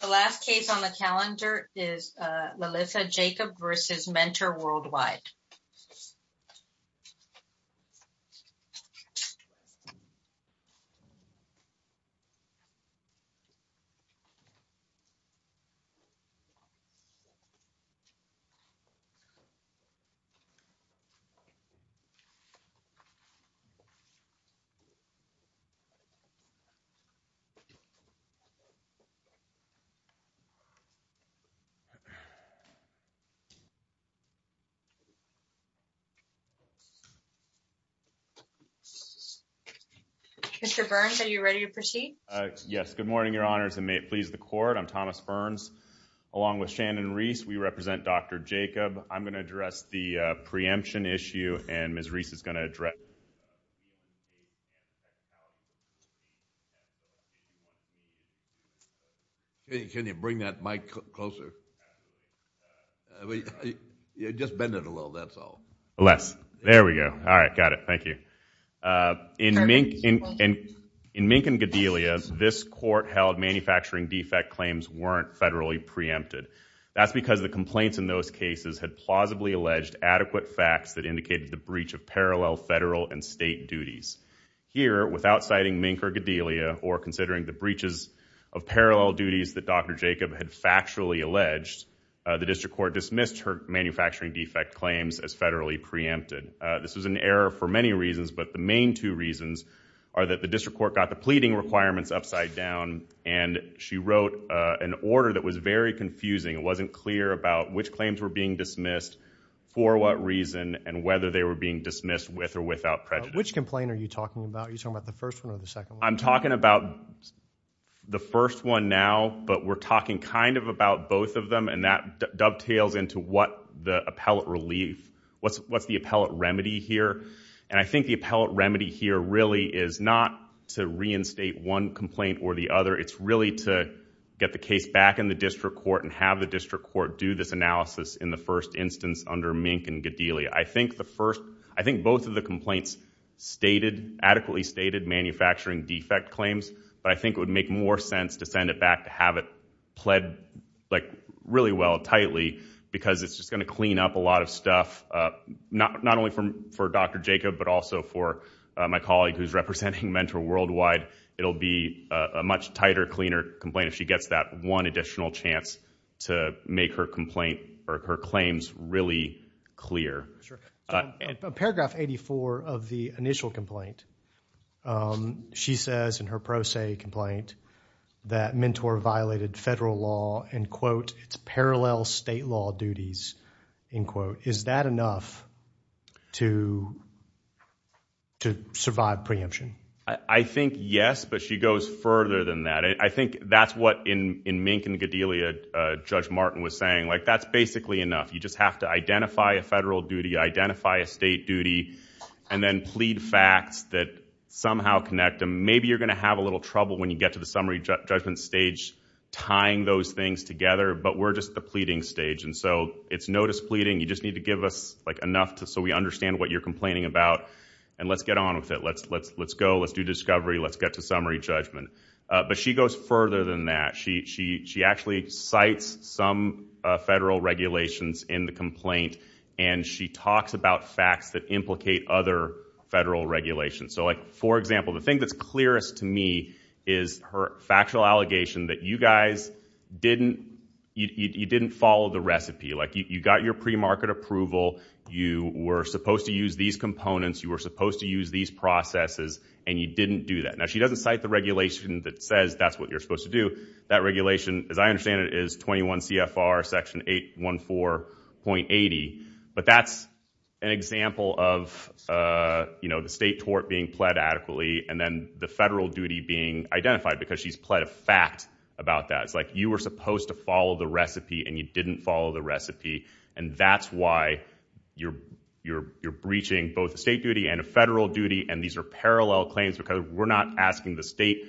The last case on the calendar is Lilitha Jacob v. Mentor Worldwide. Lilitha Jacob v. Mentor Worldwide LLC Mr. Burns, are you ready to proceed? Yes. Good morning, Your Honors, and may it please the Court, I'm Thomas Burns, along with Shannon Reese. We represent Dr. Jacob. I'm going to address the preemption issue, and Ms. Reese is going to address the preemption issue. Can you bring that mic closer? Just bend it a little, that's all. Less. There we go. All right, got it. Thank you. In Mink and Gedelia, this Court held manufacturing defect claims weren't federally preempted. That's because the complaints in those cases had plausibly alleged adequate facts that indicated the breach of parallel federal and state duties. Here, without citing Mink or Gedelia or considering the breaches of parallel duties that Dr. Jacob had factually alleged, the District Court dismissed her manufacturing defect claims as federally preempted. This was an error for many reasons, but the main two reasons are that the District Court got the pleading requirements upside down, and she wrote an order that was very confusing. It wasn't clear about which claims were being dismissed, for what reason, and whether they were being dismissed with or without prejudice. Which complaint are you talking about? Are you talking about the first one or the second one? I'm talking about the first one now, but we're talking kind of about both of them, and that dovetails into what the appellate relief, what's the appellate remedy here. I think the appellate remedy here really is not to reinstate one complaint or the other. It's really to get the case back in the District Court and have the District Court do this analysis in the first instance under Mink and Gedelia. I think both of the complaints adequately stated manufacturing defect claims, but I think it would make more sense to send it back to have it pled really well, tightly, because it's just going to clean up a lot of stuff, not only for Dr. Jacob, but also for my colleague who's representing Mentor Worldwide. It'll be a much tighter, cleaner complaint if she gets that one additional chance to make her complaint or her claims really clear. Sure. John, paragraph 84 of the initial complaint, she says in her pro se complaint that Mentor violated federal law and, quote, it's parallel state law duties, end quote. Is that enough to survive preemption? I think yes, but she goes further than that. I think that's what, in Mink and Gedelia, Judge Martin was saying. That's basically enough. You just have to identify a federal duty, identify a state duty, and then plead facts that somehow connect them. Maybe you're going to have a little trouble when you get to the summary judgment stage tying those things together, but we're just at the pleading stage. It's no displeading. You just need to give us enough so we understand what you're complaining about and let's get on with it. Let's go. Let's do discovery. Let's get to summary judgment. But she goes further than that. She actually cites some federal regulations in the complaint, and she talks about facts that implicate other federal regulations. For example, the thing that's clearest to me is her factual allegation that you guys didn't, you didn't follow the recipe. You got your premarket approval. You were supposed to use these components. You were supposed to use these processes, and you didn't do that. Now, she doesn't cite the regulation that says that's what you're supposed to do. That regulation, as I understand it, is 21 CFR section 814.80, but that's an example of the state tort being pled adequately and then the federal duty being identified because she's pled a fact about that. It's like you were supposed to follow the recipe, and you didn't follow the recipe, and that's why you're breaching both a state duty and a federal duty, and these are parallel claims because we're not asking the state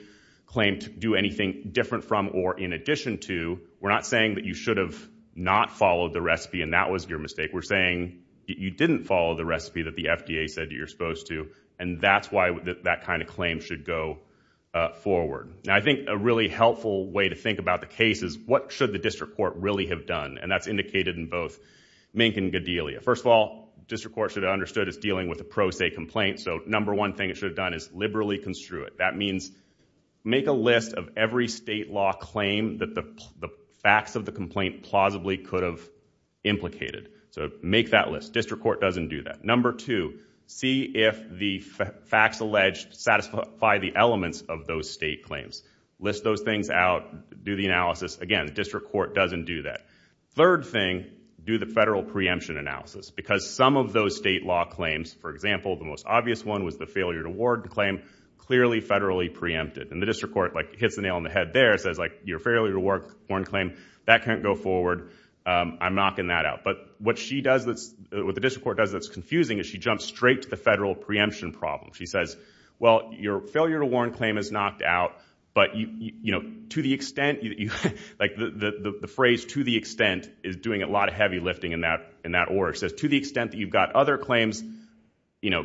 claim to do anything different from or in addition to. We're not saying that you should have not followed the recipe and that was your mistake. We're saying that you didn't follow the recipe that the FDA said that you're supposed to, and that's why that kind of claim should go forward. Now, I think a really helpful way to think about the case is what should the district court really have done, and that's indicated in both Mink and Gedelia. First of all, district court should have understood it's dealing with a pro se complaint, so number one thing it should have done is liberally construe it. That means make a list of every state law claim that the facts of the complaint plausibly could have implicated, so make that list. District court doesn't do that. Number two, see if the facts alleged satisfy the elements of those state claims. List those things out, do the analysis. Again, district court doesn't do that. Third thing, do the federal preemption analysis because some of those state law claims, for example, your failure to warn claim, clearly federally preempted, and the district court hits the nail on the head there and says your failure to warn claim, that can't go forward. I'm knocking that out, but what the district court does that's confusing is she jumps straight to the federal preemption problem. She says, well, your failure to warn claim is knocked out, but to the extent, the phrase to the extent is doing a lot of heavy lifting in that order. She says, to the extent that you've got other claims,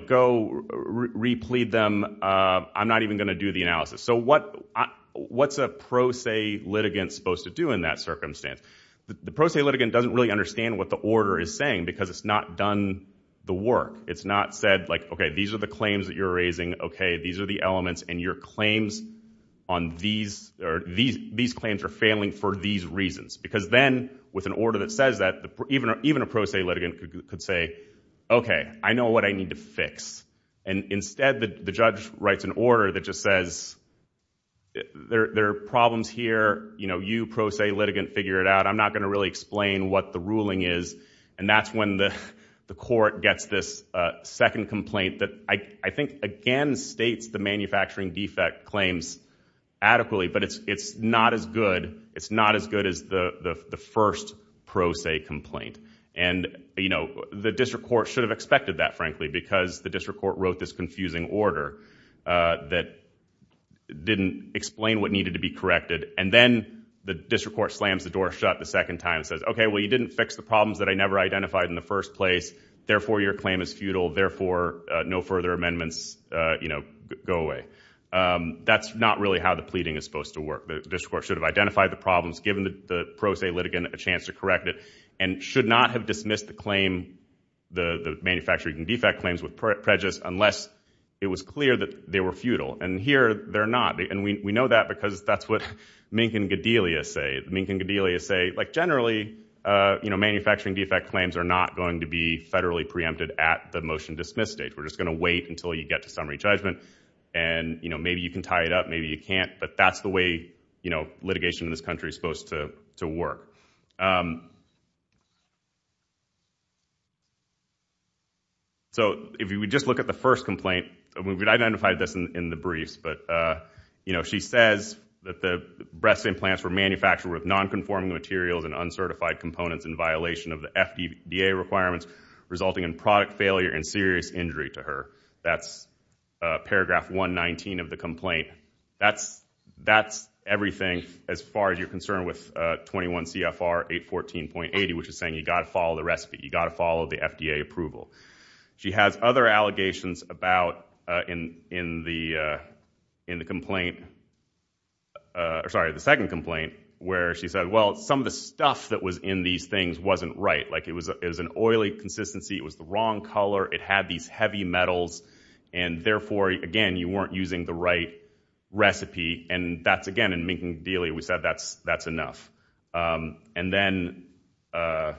go replead them. I'm not even going to do the analysis. So what's a pro se litigant supposed to do in that circumstance? The pro se litigant doesn't really understand what the order is saying because it's not done the work. It's not said, OK, these are the claims that you're raising, OK, these are the elements, and your claims on these, or these claims are failing for these reasons. Because then, with an order that says that, even a pro se litigant could say, OK, I know what I need to fix. And instead, the judge writes an order that just says, there are problems here, you pro se litigant figure it out, I'm not going to really explain what the ruling is. And that's when the court gets this second complaint that I think, again, states the manufacturing defect claims adequately, but it's not as good. It's not as good as the first pro se complaint. And the district court should have expected that, frankly, because the district court wrote this confusing order that didn't explain what needed to be corrected. And then the district court slams the door shut the second time and says, OK, well, you didn't fix the problems that I never identified in the first place, therefore, your claim is futile, therefore, no further amendments go away. That's not really how the pleading is supposed to work. The district court should have identified the problems, given the pro se litigant a chance to correct it, and should not have dismissed the manufacturing defect claims with prejudice unless it was clear that they were futile. And here, they're not. And we know that because that's what Mink and Gedelia say. Mink and Gedelia say, generally, manufacturing defect claims are not going to be federally preempted at the motion dismiss stage. We're just going to wait until you get to summary judgment. And maybe you can tie it up, maybe you can't. But that's the way litigation in this country is supposed to work. So if we just look at the first complaint, we've identified this in the briefs, but she says that the breast implants were manufactured with non-conforming materials and uncertified components in violation of the FDA requirements, resulting in product failure and serious injury to her. That's paragraph 119 of the complaint. That's everything as far as you're concerned with 21 CFR 814.80, which is saying you got to follow the recipe. You got to follow the FDA approval. She has other allegations about in the complaint, or sorry, the second complaint, where she said, well, some of the stuff that was in these things wasn't right. Like it was an oily consistency, it was the wrong color, it had these heavy metals. And therefore, again, you weren't using the right recipe. And that's, again, in Minkin-Dealy, we said that's enough. And then I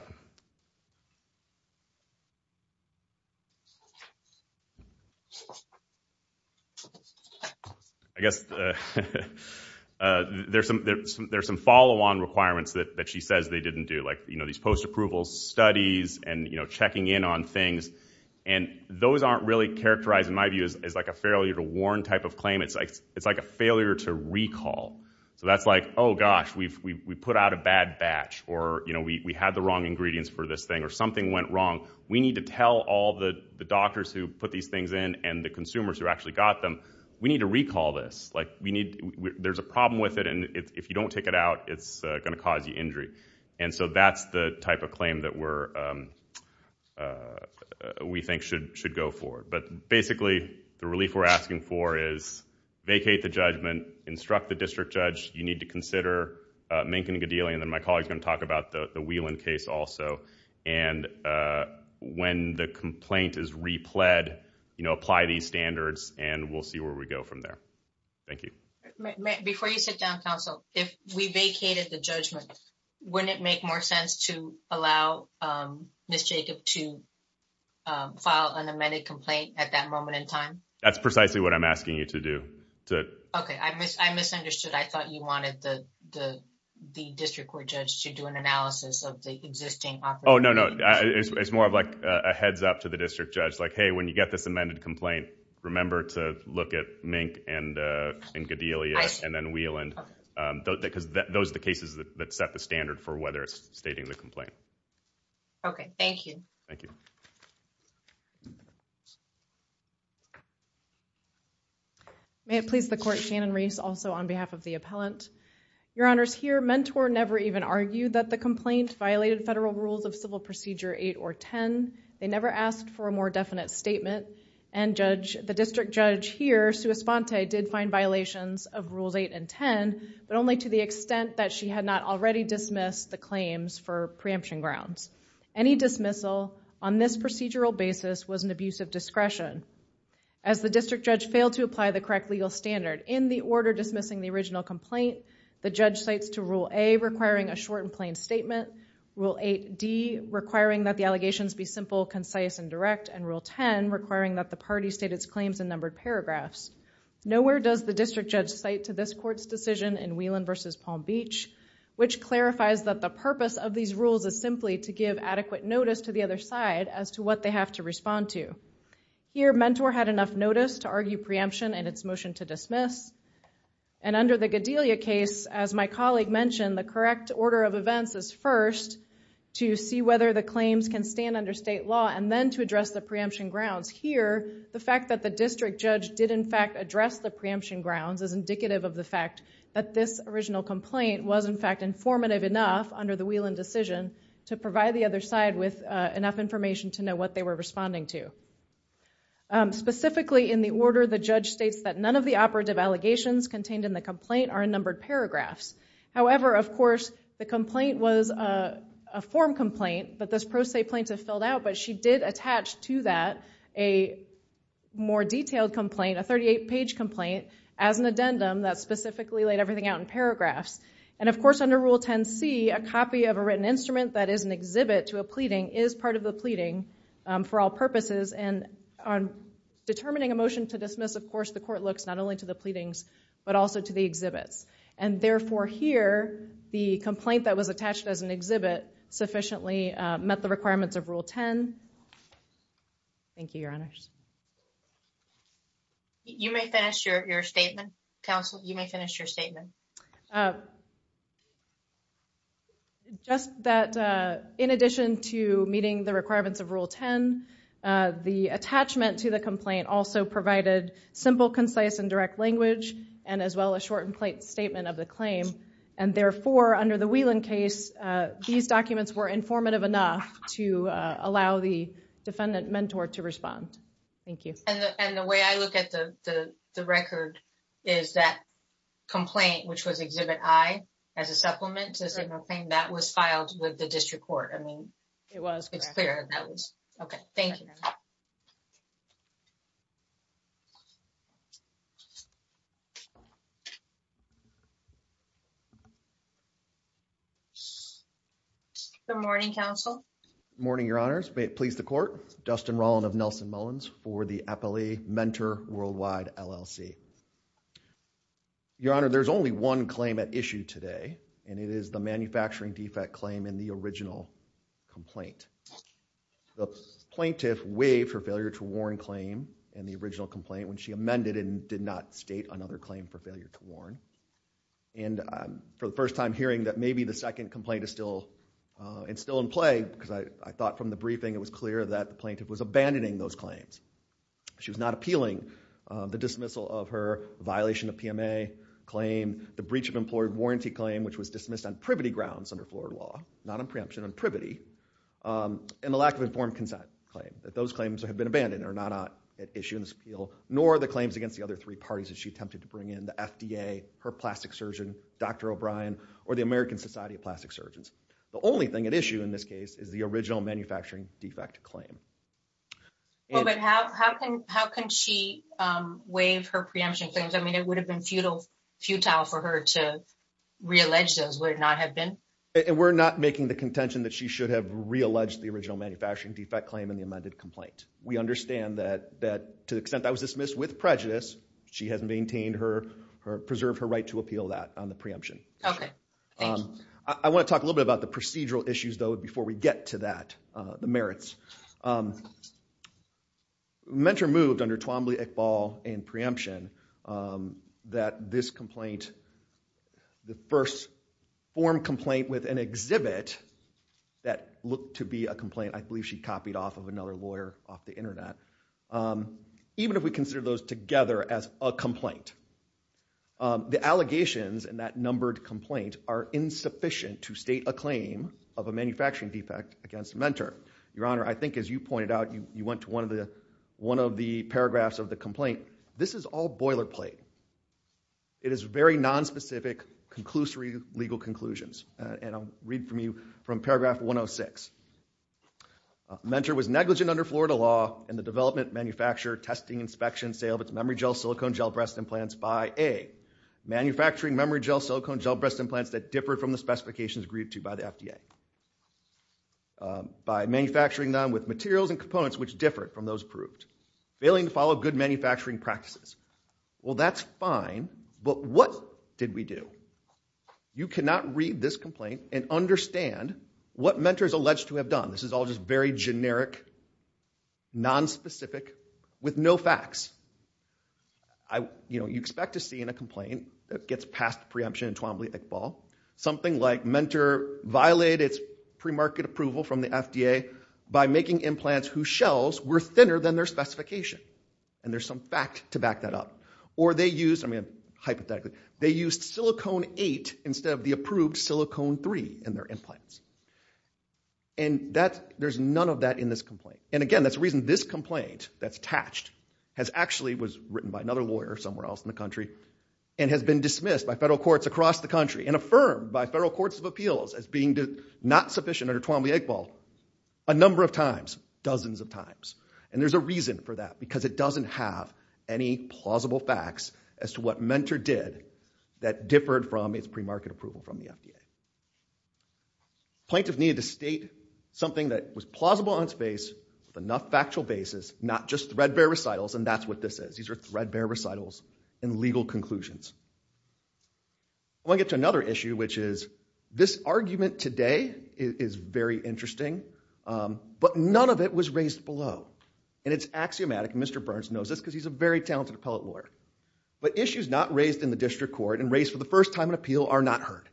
guess there's some follow-on requirements that she says they didn't do, like these post-approval studies and checking in on things. And those aren't really characterized, in my view, as like a failure to warn type of claim. It's like a failure to recall. So that's like, oh, gosh, we put out a bad batch, or we had the wrong ingredients for this thing, or something went wrong. We need to tell all the doctors who put these things in and the consumers who actually got them, we need to recall this. There's a problem with it, and if you don't take it out, it's going to cause you injury. And so that's the type of claim that we think should go forward. But basically, the relief we're asking for is vacate the judgment, instruct the district judge, you need to consider Minkin-Dealy, and then my colleague's going to talk about the Whelan case also. And when the complaint is repled, apply these standards, and we'll see where we go from there. Thank you. Before you sit down, counsel, if we vacated the judgment, wouldn't it make more sense to allow Ms. Jacob to file an amended complaint at that moment in time? That's precisely what I'm asking you to do. Okay, I misunderstood. I thought you wanted the district court judge to do an analysis of the existing offer. Oh, no, no. It's more of like a heads up to the district judge, like, hey, when you get this amended complaint, remember to look at Minkin-Dealy, and then Whelan, because those are the cases that set the standard for whether it's stating the complaint. Okay, thank you. Thank you. May it please the court, Shannon Reese, also on behalf of the appellant. Your honors, here, mentor never even argued that the complaint violated federal rules of civil procedure eight or 10. They never asked for a more definite statement, and the district judge here, Sua Sponte, did find violations of rules eight and 10, but only to the extent that she had not already dismissed the claims for preemption grounds. Any dismissal on this procedural basis was an abuse of discretion, as the district judge failed to apply the correct legal standard. In the order dismissing the original complaint, the judge cites to rule A, requiring a short complaint statement, rule 8D, requiring that the allegations be simple, concise, and direct, and rule 10, requiring that the party state its claims in numbered paragraphs. Nowhere does the district judge cite to this court's decision in Whelan v. Palm Beach, which clarifies that the purpose of these rules is simply to give adequate notice to the other side as to what they have to respond to. Here, mentor had enough notice to argue preemption in its motion to dismiss, and under the Gedelia case, as my colleague mentioned, the correct order of events is first to see whether the claims can stand under state law, and then to address the preemption grounds. Here, the fact that the district judge did in fact address the preemption grounds is indicative of the fact that this original complaint was in fact informative enough under the Whelan decision to provide the other side with enough information to know what they were responding to. Specifically in the order, the judge states that none of the operative allegations contained in the complaint are in numbered paragraphs. However, of course, the complaint was a form complaint that this pro se plaintiff filled out, but she did attach to that a more detailed complaint, a 38-page complaint, as an addendum that specifically laid everything out in paragraphs. And of course, under Rule 10c, a copy of a written instrument that is an exhibit to a pleading is part of the pleading for all purposes, and on determining a motion to dismiss, of course, but also to the exhibits. And therefore here, the complaint that was attached as an exhibit sufficiently met the requirements of Rule 10. Thank you, Your Honors. You may finish your statement, Counsel. You may finish your statement. Just that in addition to meeting the requirements of Rule 10, the attachment to the complaint also provided simple, concise, and direct language, and as well as short and plain statement of the claim. And therefore, under the Whelan case, these documents were informative enough to allow the defendant mentor to respond. Thank you. And the way I look at the record is that complaint, which was Exhibit I, as a supplement to the complaint, that was filed with the district court. I mean, it's clear that was. Okay. Thank you. Thank you, Counsel. Good morning, Counsel. Good morning, Your Honor. May it please the Court. Dustin Rollin of Nelson Mullins for the Appalachia Mentor Worldwide, LLC. Your Honor, there's only one claim at issue today, and it is the manufacturing defect claim in the original complaint. The plaintiff waived her failure to warn claim in the original complaint when she amended and did not state another claim for failure to warn. And for the first time hearing that maybe the second complaint is still in play, because I thought from the briefing it was clear that the plaintiff was abandoning those claims. She was not appealing the dismissal of her violation of PMA claim, the breach of employee warranty claim, which was dismissed on privity grounds under Florida law. Not on preemption, on privity, and the lack of informed consent claim. Those claims have been abandoned. They're not at issue in this appeal, nor are the claims against the other three parties that she attempted to bring in, the FDA, her plastic surgeon, Dr. O'Brien, or the American Society of Plastic Surgeons. The only thing at issue in this case is the original manufacturing defect claim. Well, but how can she waive her preemption claims? I mean, it would have been futile for her to reallege those, would it not have been? And we're not making the contention that she should have realleged the original manufacturing defect claim in the amended complaint. We understand that to the extent that was dismissed with prejudice, she has maintained her, preserved her right to appeal that on the preemption. Okay. Thank you. I want to talk a little bit about the procedural issues though before we get to that, the merits. Mentor moved under Twombly, Iqbal, and preemption that this complaint, the first form complaint, with an exhibit that looked to be a complaint, I believe she copied off of another lawyer off the internet. Even if we consider those together as a complaint, the allegations in that numbered complaint are insufficient to state a claim of a manufacturing defect against Mentor. Your Honor, I think as you pointed out, you went to one of the paragraphs of the complaint. This is all boilerplate. It is very nonspecific, conclusory legal conclusions, and I'll read from you from paragraph 106. Mentor was negligent under Florida law in the development, manufacture, testing, inspection, sale of its memory gel silicone gel breast implants by A, manufacturing memory gel silicone gel breast implants that differed from the specifications agreed to by the FDA. By manufacturing them with materials and components which differed from those approved. Failing to follow good manufacturing practices. Well that's fine, but what did we do? You cannot read this complaint and understand what Mentor is alleged to have done. This is all just very generic, nonspecific, with no facts. You expect to see in a complaint that gets past preemption in Twombly, Iqbal, something like Mentor violated its premarket approval from the FDA by making implants whose shells were thinner than their specification. And there's some fact to back that up. Or they used, hypothetically, they used silicone eight instead of the approved silicone three in their implants. And there's none of that in this complaint. And again, that's the reason this complaint that's attached has actually, was written by another lawyer somewhere else in the country, and has been dismissed by federal courts across the country and affirmed by federal courts of appeals as being not sufficient under Twombly-Iqbal a number of times, dozens of times. And there's a reason for that, because it doesn't have any plausible facts as to what Mentor did that differed from its premarket approval from the FDA. Plaintiff needed to state something that was plausible on its face, with enough factual basis, not just threadbare recitals, and that's what this is. These are threadbare recitals and legal conclusions. I want to get to another issue, which is this argument today is very interesting, but none of it was raised below. And it's axiomatic, and Mr. Burns knows this because he's a very talented appellate lawyer. But issues not raised in the district court and raised for the first time in appeal are not heard.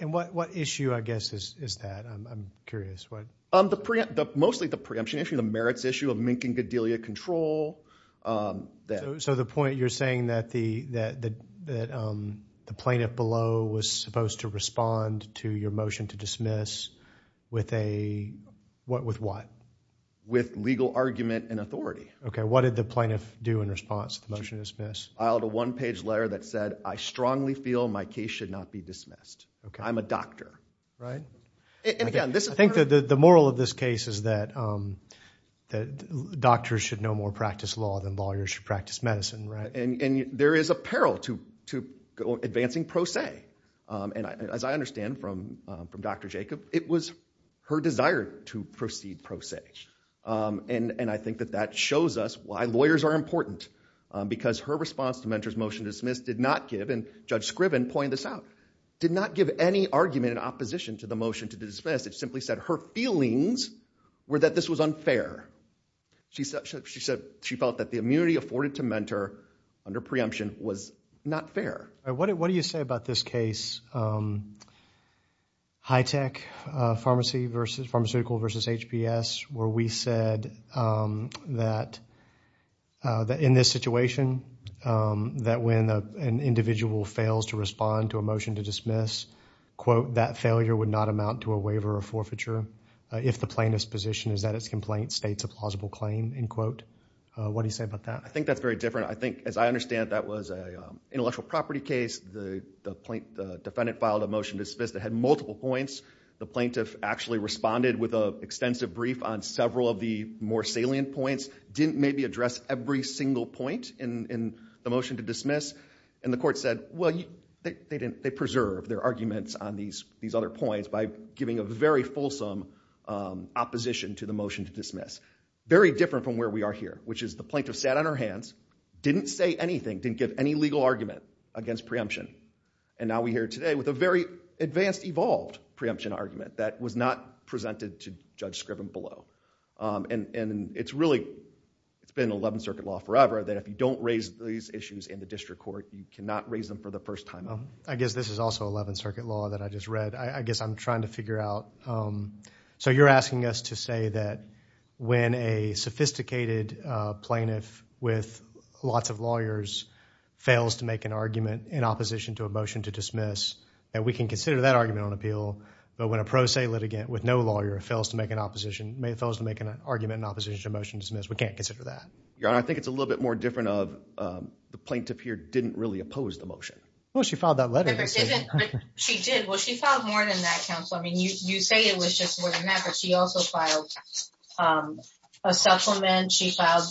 And what issue, I guess, is that? I'm curious. Mostly the preemption issue, the merits issue of mink and godelia control. So the point, you're saying that the plaintiff below was supposed to respond to your motion to dismiss with what? With legal argument and authority. Okay. What did the plaintiff do in response to the motion to dismiss? Filed a one-page letter that said, I strongly feel my case should not be dismissed. I'm a doctor. Right? And again, this is- I think that the moral of this case is that doctors should no more practice law than lawyers should practice medicine, right? And there is a peril to advancing pro se. And as I understand from Dr. Jacob, it was her desire to proceed pro se. And I think that that shows us why lawyers are important, because her response to Mentor's motion to dismiss did not give, and Judge Scriven pointed this out, did not give any argument in opposition to the motion to dismiss. It simply said her feelings were that this was unfair. She felt that the immunity afforded to Mentor under preemption was not fair. All right. What do you say about this case, Hitech Pharmaceutical versus HBS, where we said that in this situation, that when an individual fails to respond to a motion to dismiss, quote, that failure would not amount to a waiver or forfeiture if the plaintiff's position is that its complaint states a plausible claim, end quote. What do you say about that? I think that's very different. I think, as I understand, that was an intellectual property case. The defendant filed a motion to dismiss that had multiple points. The plaintiff actually responded with an extensive brief on several of the more salient points, didn't maybe address every single point in the motion to dismiss. And the court said, well, they preserved their arguments on these other points by giving us very different from where we are here, which is the plaintiff sat on her hands, didn't say anything, didn't give any legal argument against preemption. And now we're here today with a very advanced, evolved preemption argument that was not presented to Judge Scriven below. And it's really, it's been 11th Circuit law forever that if you don't raise these issues in the district court, you cannot raise them for the first time. I guess this is also 11th Circuit law that I just read. I guess I'm trying to figure out. So you're asking us to say that when a sophisticated plaintiff with lots of lawyers fails to make an argument in opposition to a motion to dismiss, that we can consider that argument on appeal. But when a pro se litigant with no lawyer fails to make an opposition, fails to make an argument in opposition to a motion to dismiss, we can't consider that. Your Honor, I think it's a little bit more different of the plaintiff here didn't really oppose the motion. Well, she filed that letter. She did. Well, she filed more than that, counsel. I mean, you say it was just more than that, but she also filed a supplement. She filed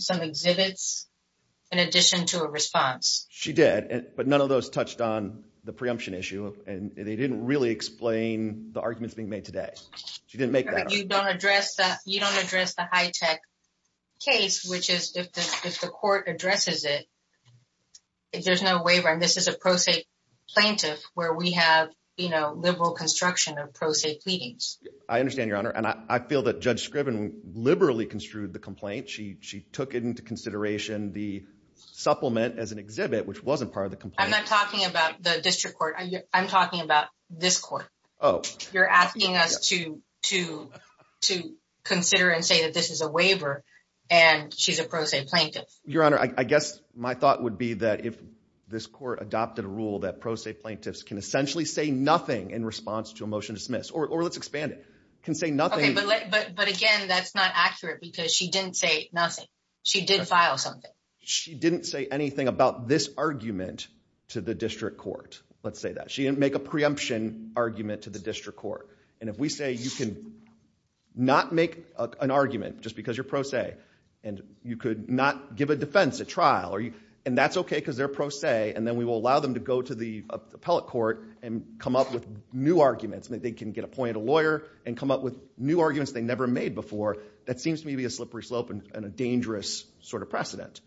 some exhibits in addition to a response. She did. But none of those touched on the preemption issue and they didn't really explain the arguments being made today. She didn't make that up. You don't address that. You don't address the high tech case, which is if the court addresses it, there's no waiver. And this is a pro se plaintiff where we have liberal construction of pro se pleadings. I understand, Your Honor. And I feel that Judge Scriven liberally construed the complaint. She took into consideration the supplement as an exhibit, which wasn't part of the complaint. I'm not talking about the district court. I'm talking about this court. You're asking us to consider and say that this is a waiver and she's a pro se plaintiff. Your Honor, I guess my thought would be that if this court adopted a rule that pro se plaintiffs can essentially say nothing in response to a motion to dismiss or let's expand it, can say nothing. But again, that's not accurate because she didn't say nothing. She did file something. She didn't say anything about this argument to the district court. Let's say that she didn't make a preemption argument to the district court. And if we say you can not make an argument just because you're pro se and you could not give a defense at trial, and that's OK because they're pro se, and then we will allow them to go to the appellate court and come up with new arguments. They can get appointed a lawyer and come up with new arguments they never made before. That seems to me to be a slippery slope and a dangerous sort of precedent.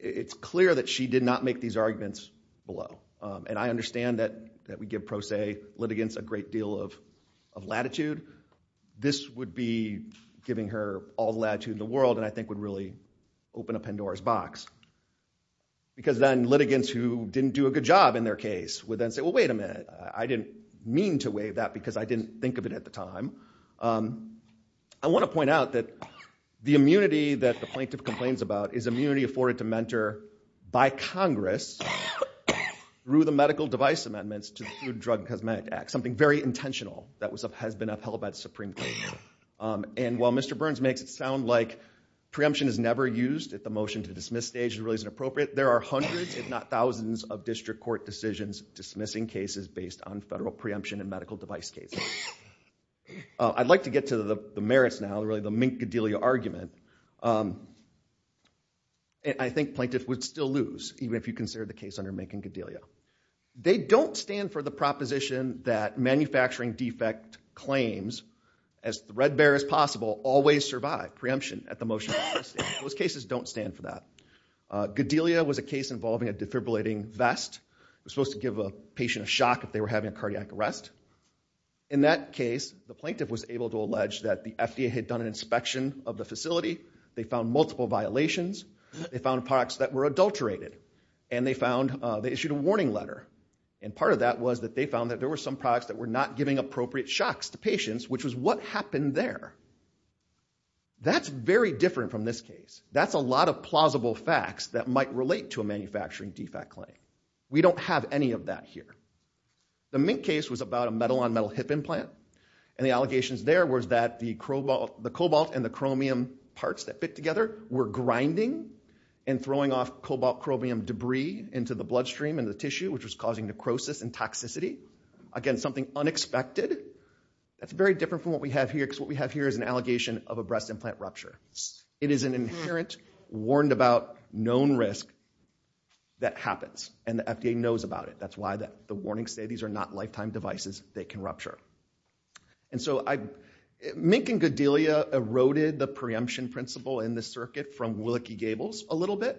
It's clear that she did not make these arguments below. And I understand that we give pro se litigants a great deal of latitude. This would be giving her all the latitude in the world and I think would really open a Pandora's box. Because then litigants who didn't do a good job in their case would then say, well, wait a minute. I didn't mean to waive that because I didn't think of it at the time. I want to point out that the immunity that the plaintiff complains about is immunity afforded to mentor by Congress through the medical device amendments to the Food, Drug, and Cosmetic Act, something very intentional that has been upheld by the Supreme Court. And while Mr. Burns makes it sound like preemption is never used at the motion to dismiss stage is really inappropriate, there are hundreds, if not thousands, of district court decisions dismissing cases based on federal preemption and medical device cases. I'd like to get to the merits now, really the Mink-Gedelia argument. I think plaintiffs would still lose, even if you consider the case under Mink and Gedelia. They don't stand for the proposition that manufacturing defect claims, as threadbare as possible, always survive preemption at the motion. Those cases don't stand for that. Gedelia was a case involving a defibrillating vest. It was supposed to give a patient a shock if they were having a cardiac arrest. In that case, the plaintiff was able to allege that the FDA had done an inspection of the facility. They found multiple violations. They found products that were adulterated. And they found, they issued a warning letter. And part of that was that they found that there were some products that were not giving appropriate shocks to patients, which was what happened there. That's very different from this case. That's a lot of plausible facts that might relate to a manufacturing defect claim. We don't have any of that here. The Mink case was about a metal-on-metal hip implant. And the allegations there was that the cobalt and the chromium parts that fit together were grinding and throwing off cobalt-chromium debris into the bloodstream and the tissue, which was causing necrosis and toxicity. Again, something unexpected. That's very different from what we have here, because what we have here is an allegation of a breast implant rupture. It is an inherent, warned-about, known risk that happens. And the FDA knows about it. That's why the warnings say these are not lifetime devices. They can rupture. And so Mink and Godelia eroded the preemption principle in this circuit from Willeke-Gables a little bit.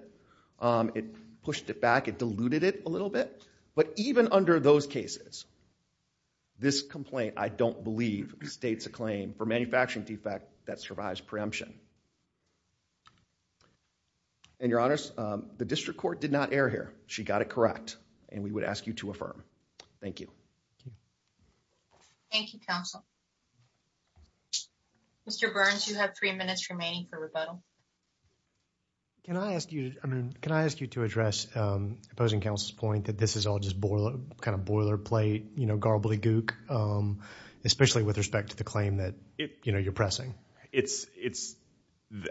It pushed it back. It diluted it a little bit. But even under those cases, this complaint, I don't believe, states a claim for manufacturing defect that survives preemption. And your honors, the district court did not err here. She got it correct. And we would ask you to affirm. Thank you. Thank you, counsel. Mr. Burns, you have three minutes remaining for rebuttal. Can I ask you to address opposing counsel's point that this is all just boilerplate, garbly gook, especially with respect to the claim that you're pressing?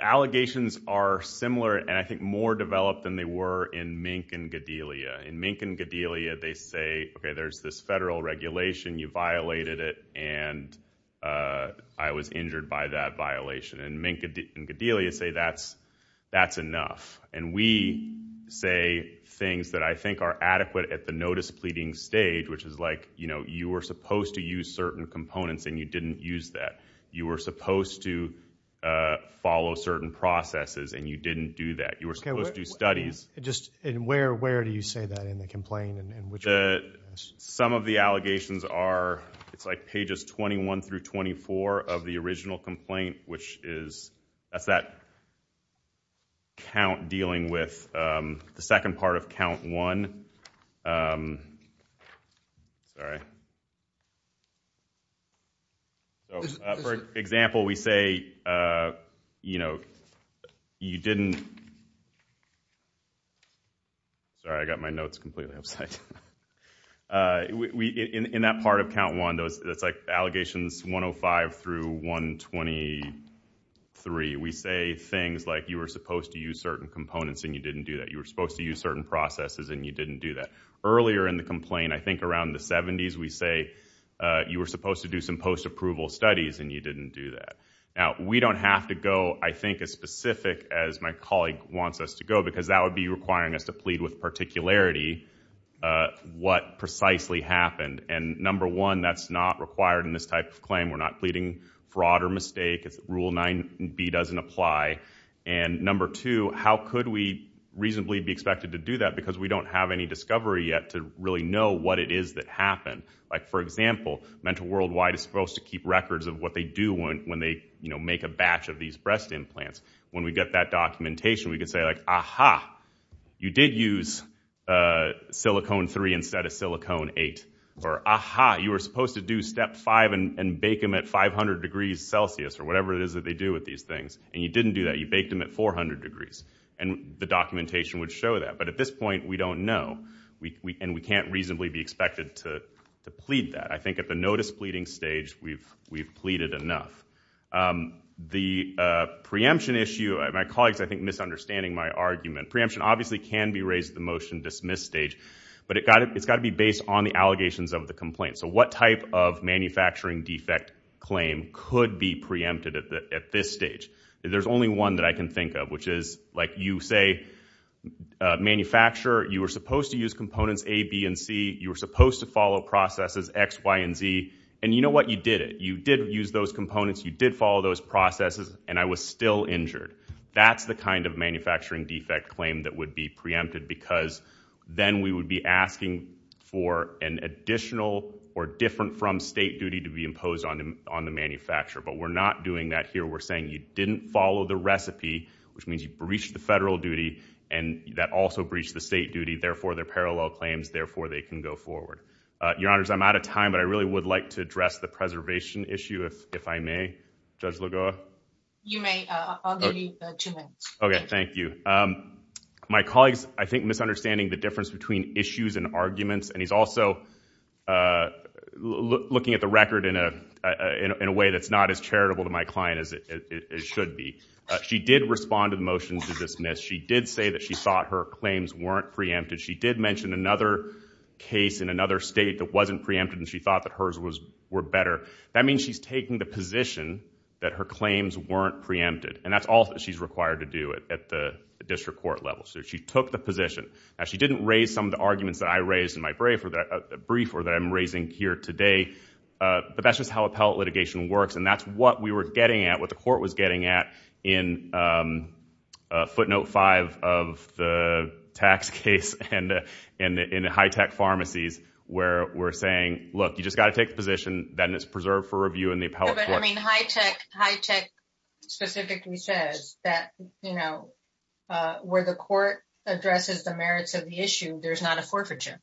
Allegations are similar and, I think, more developed than they were in Mink and Godelia. In Mink and Godelia, they say, OK, there's this federal regulation. You violated it. And I was injured by that violation. And Mink and Godelia say, that's enough. And we say things that I think are adequate at the notice pleading stage, which is like, you were supposed to use certain components and you didn't use that. You were supposed to follow certain processes and you didn't do that. You were supposed to do studies. And where do you say that in the complaint? Some of the allegations are, it's like pages 21 through 24 of the original complaint, which is, that's that count dealing with the second part of count one. For example, we say, you didn't, sorry, I got my notes completely upside down. In that part of count one, it's like allegations 105 through 123. We say things like, you were supposed to use certain components and you didn't do that. You were supposed to use certain processes and you didn't do that. Earlier in the complaint, I think around the 70s, we say, you were supposed to do some post-approval studies and you didn't do that. Now, we don't have to go, I think, as specific as my colleague wants us to go because that would be requiring us to plead with particularity what precisely happened. And number one, that's not required in this type of claim. We're not pleading fraud or mistake. Rule 9b doesn't apply. And number two, how could we reasonably be expected to do that because we don't have any discovery yet to really know what it is that happened. For example, Mental Worldwide is supposed to keep records of what they do when they make a batch of these breast implants. When we get that documentation, we did use silicone 3 instead of silicone 8. Or, aha, you were supposed to do step 5 and bake them at 500 degrees Celsius, or whatever it is that they do with these things. And you didn't do that. You baked them at 400 degrees. And the documentation would show that. But at this point, we don't know. And we can't reasonably be expected to plead that. I think at the notice pleading stage, we've pleaded enough. The preemption issue, my colleagues, I think, misunderstanding my argument. Preemption obviously can be raised at the motion dismiss stage. But it's got to be based on the allegations of the complaint. So what type of manufacturing defect claim could be preempted at this stage? There's only one that I can think of, which is you say, manufacturer, you were supposed to use components A, B, and C. You were supposed to follow processes X, Y, and Z. And you know what? You did it. You did use those components. You did follow those processes. And I was still injured. That's the kind of manufacturing defect claim that would be preempted. Because then we would be asking for an additional or different from state duty to be imposed on the manufacturer. But we're not doing that here. We're saying you didn't follow the recipe, which means you breached the federal duty. And that also breached the state duty. Therefore, they're parallel claims. Therefore, they can go forward. Your Honors, I'm out of time. But I really would like to address the preservation issue, if I may. Judge Lagoa? You may. I'll give you two minutes. OK, thank you. My colleague's, I think, misunderstanding the difference between issues and arguments. And he's also looking at the record in a way that's not as charitable to my client as it should be. She did respond to the motion to dismiss. She did say that she thought her claims weren't preempted. She did mention another case in another state that wasn't preempted. And she thought that hers were better. That means she's taking the position that her claims weren't preempted. And that's all that she's required to do at the district court level. So she took the position. Now, she didn't raise some of the arguments that I raised in my brief or that I'm raising here today. But that's just how appellate litigation works. And that's what we were getting at, what the court was getting at in footnote five of the tax case and in high-tech pharmacies, where we're saying, look, you just got to take the position. And then it's preserved for review in the appellate court. But high-tech specifically says that where the court addresses the merits of the issue, there's not a forfeiture.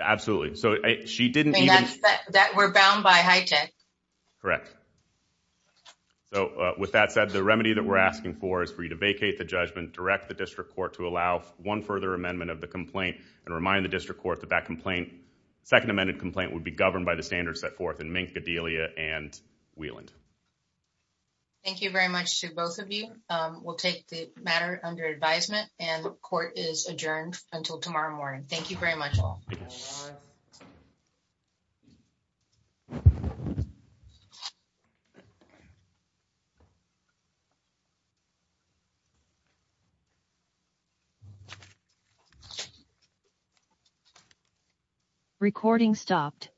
Absolutely. So she didn't even- That we're bound by high-tech. Correct. So with that said, the remedy that we're asking for is for you to vacate the judgment, direct the district court to allow one further amendment of the complaint, and remind the district court that that complaint, second amended complaint, would be governed by the standards set forth in Mink, Gdelia, and Wieland. Thank you very much to both of you. We'll take the matter under advisement. And the court is adjourned until tomorrow morning. Thank you very much, all. Thank you. Bye. Recording stopped. Recording resumed.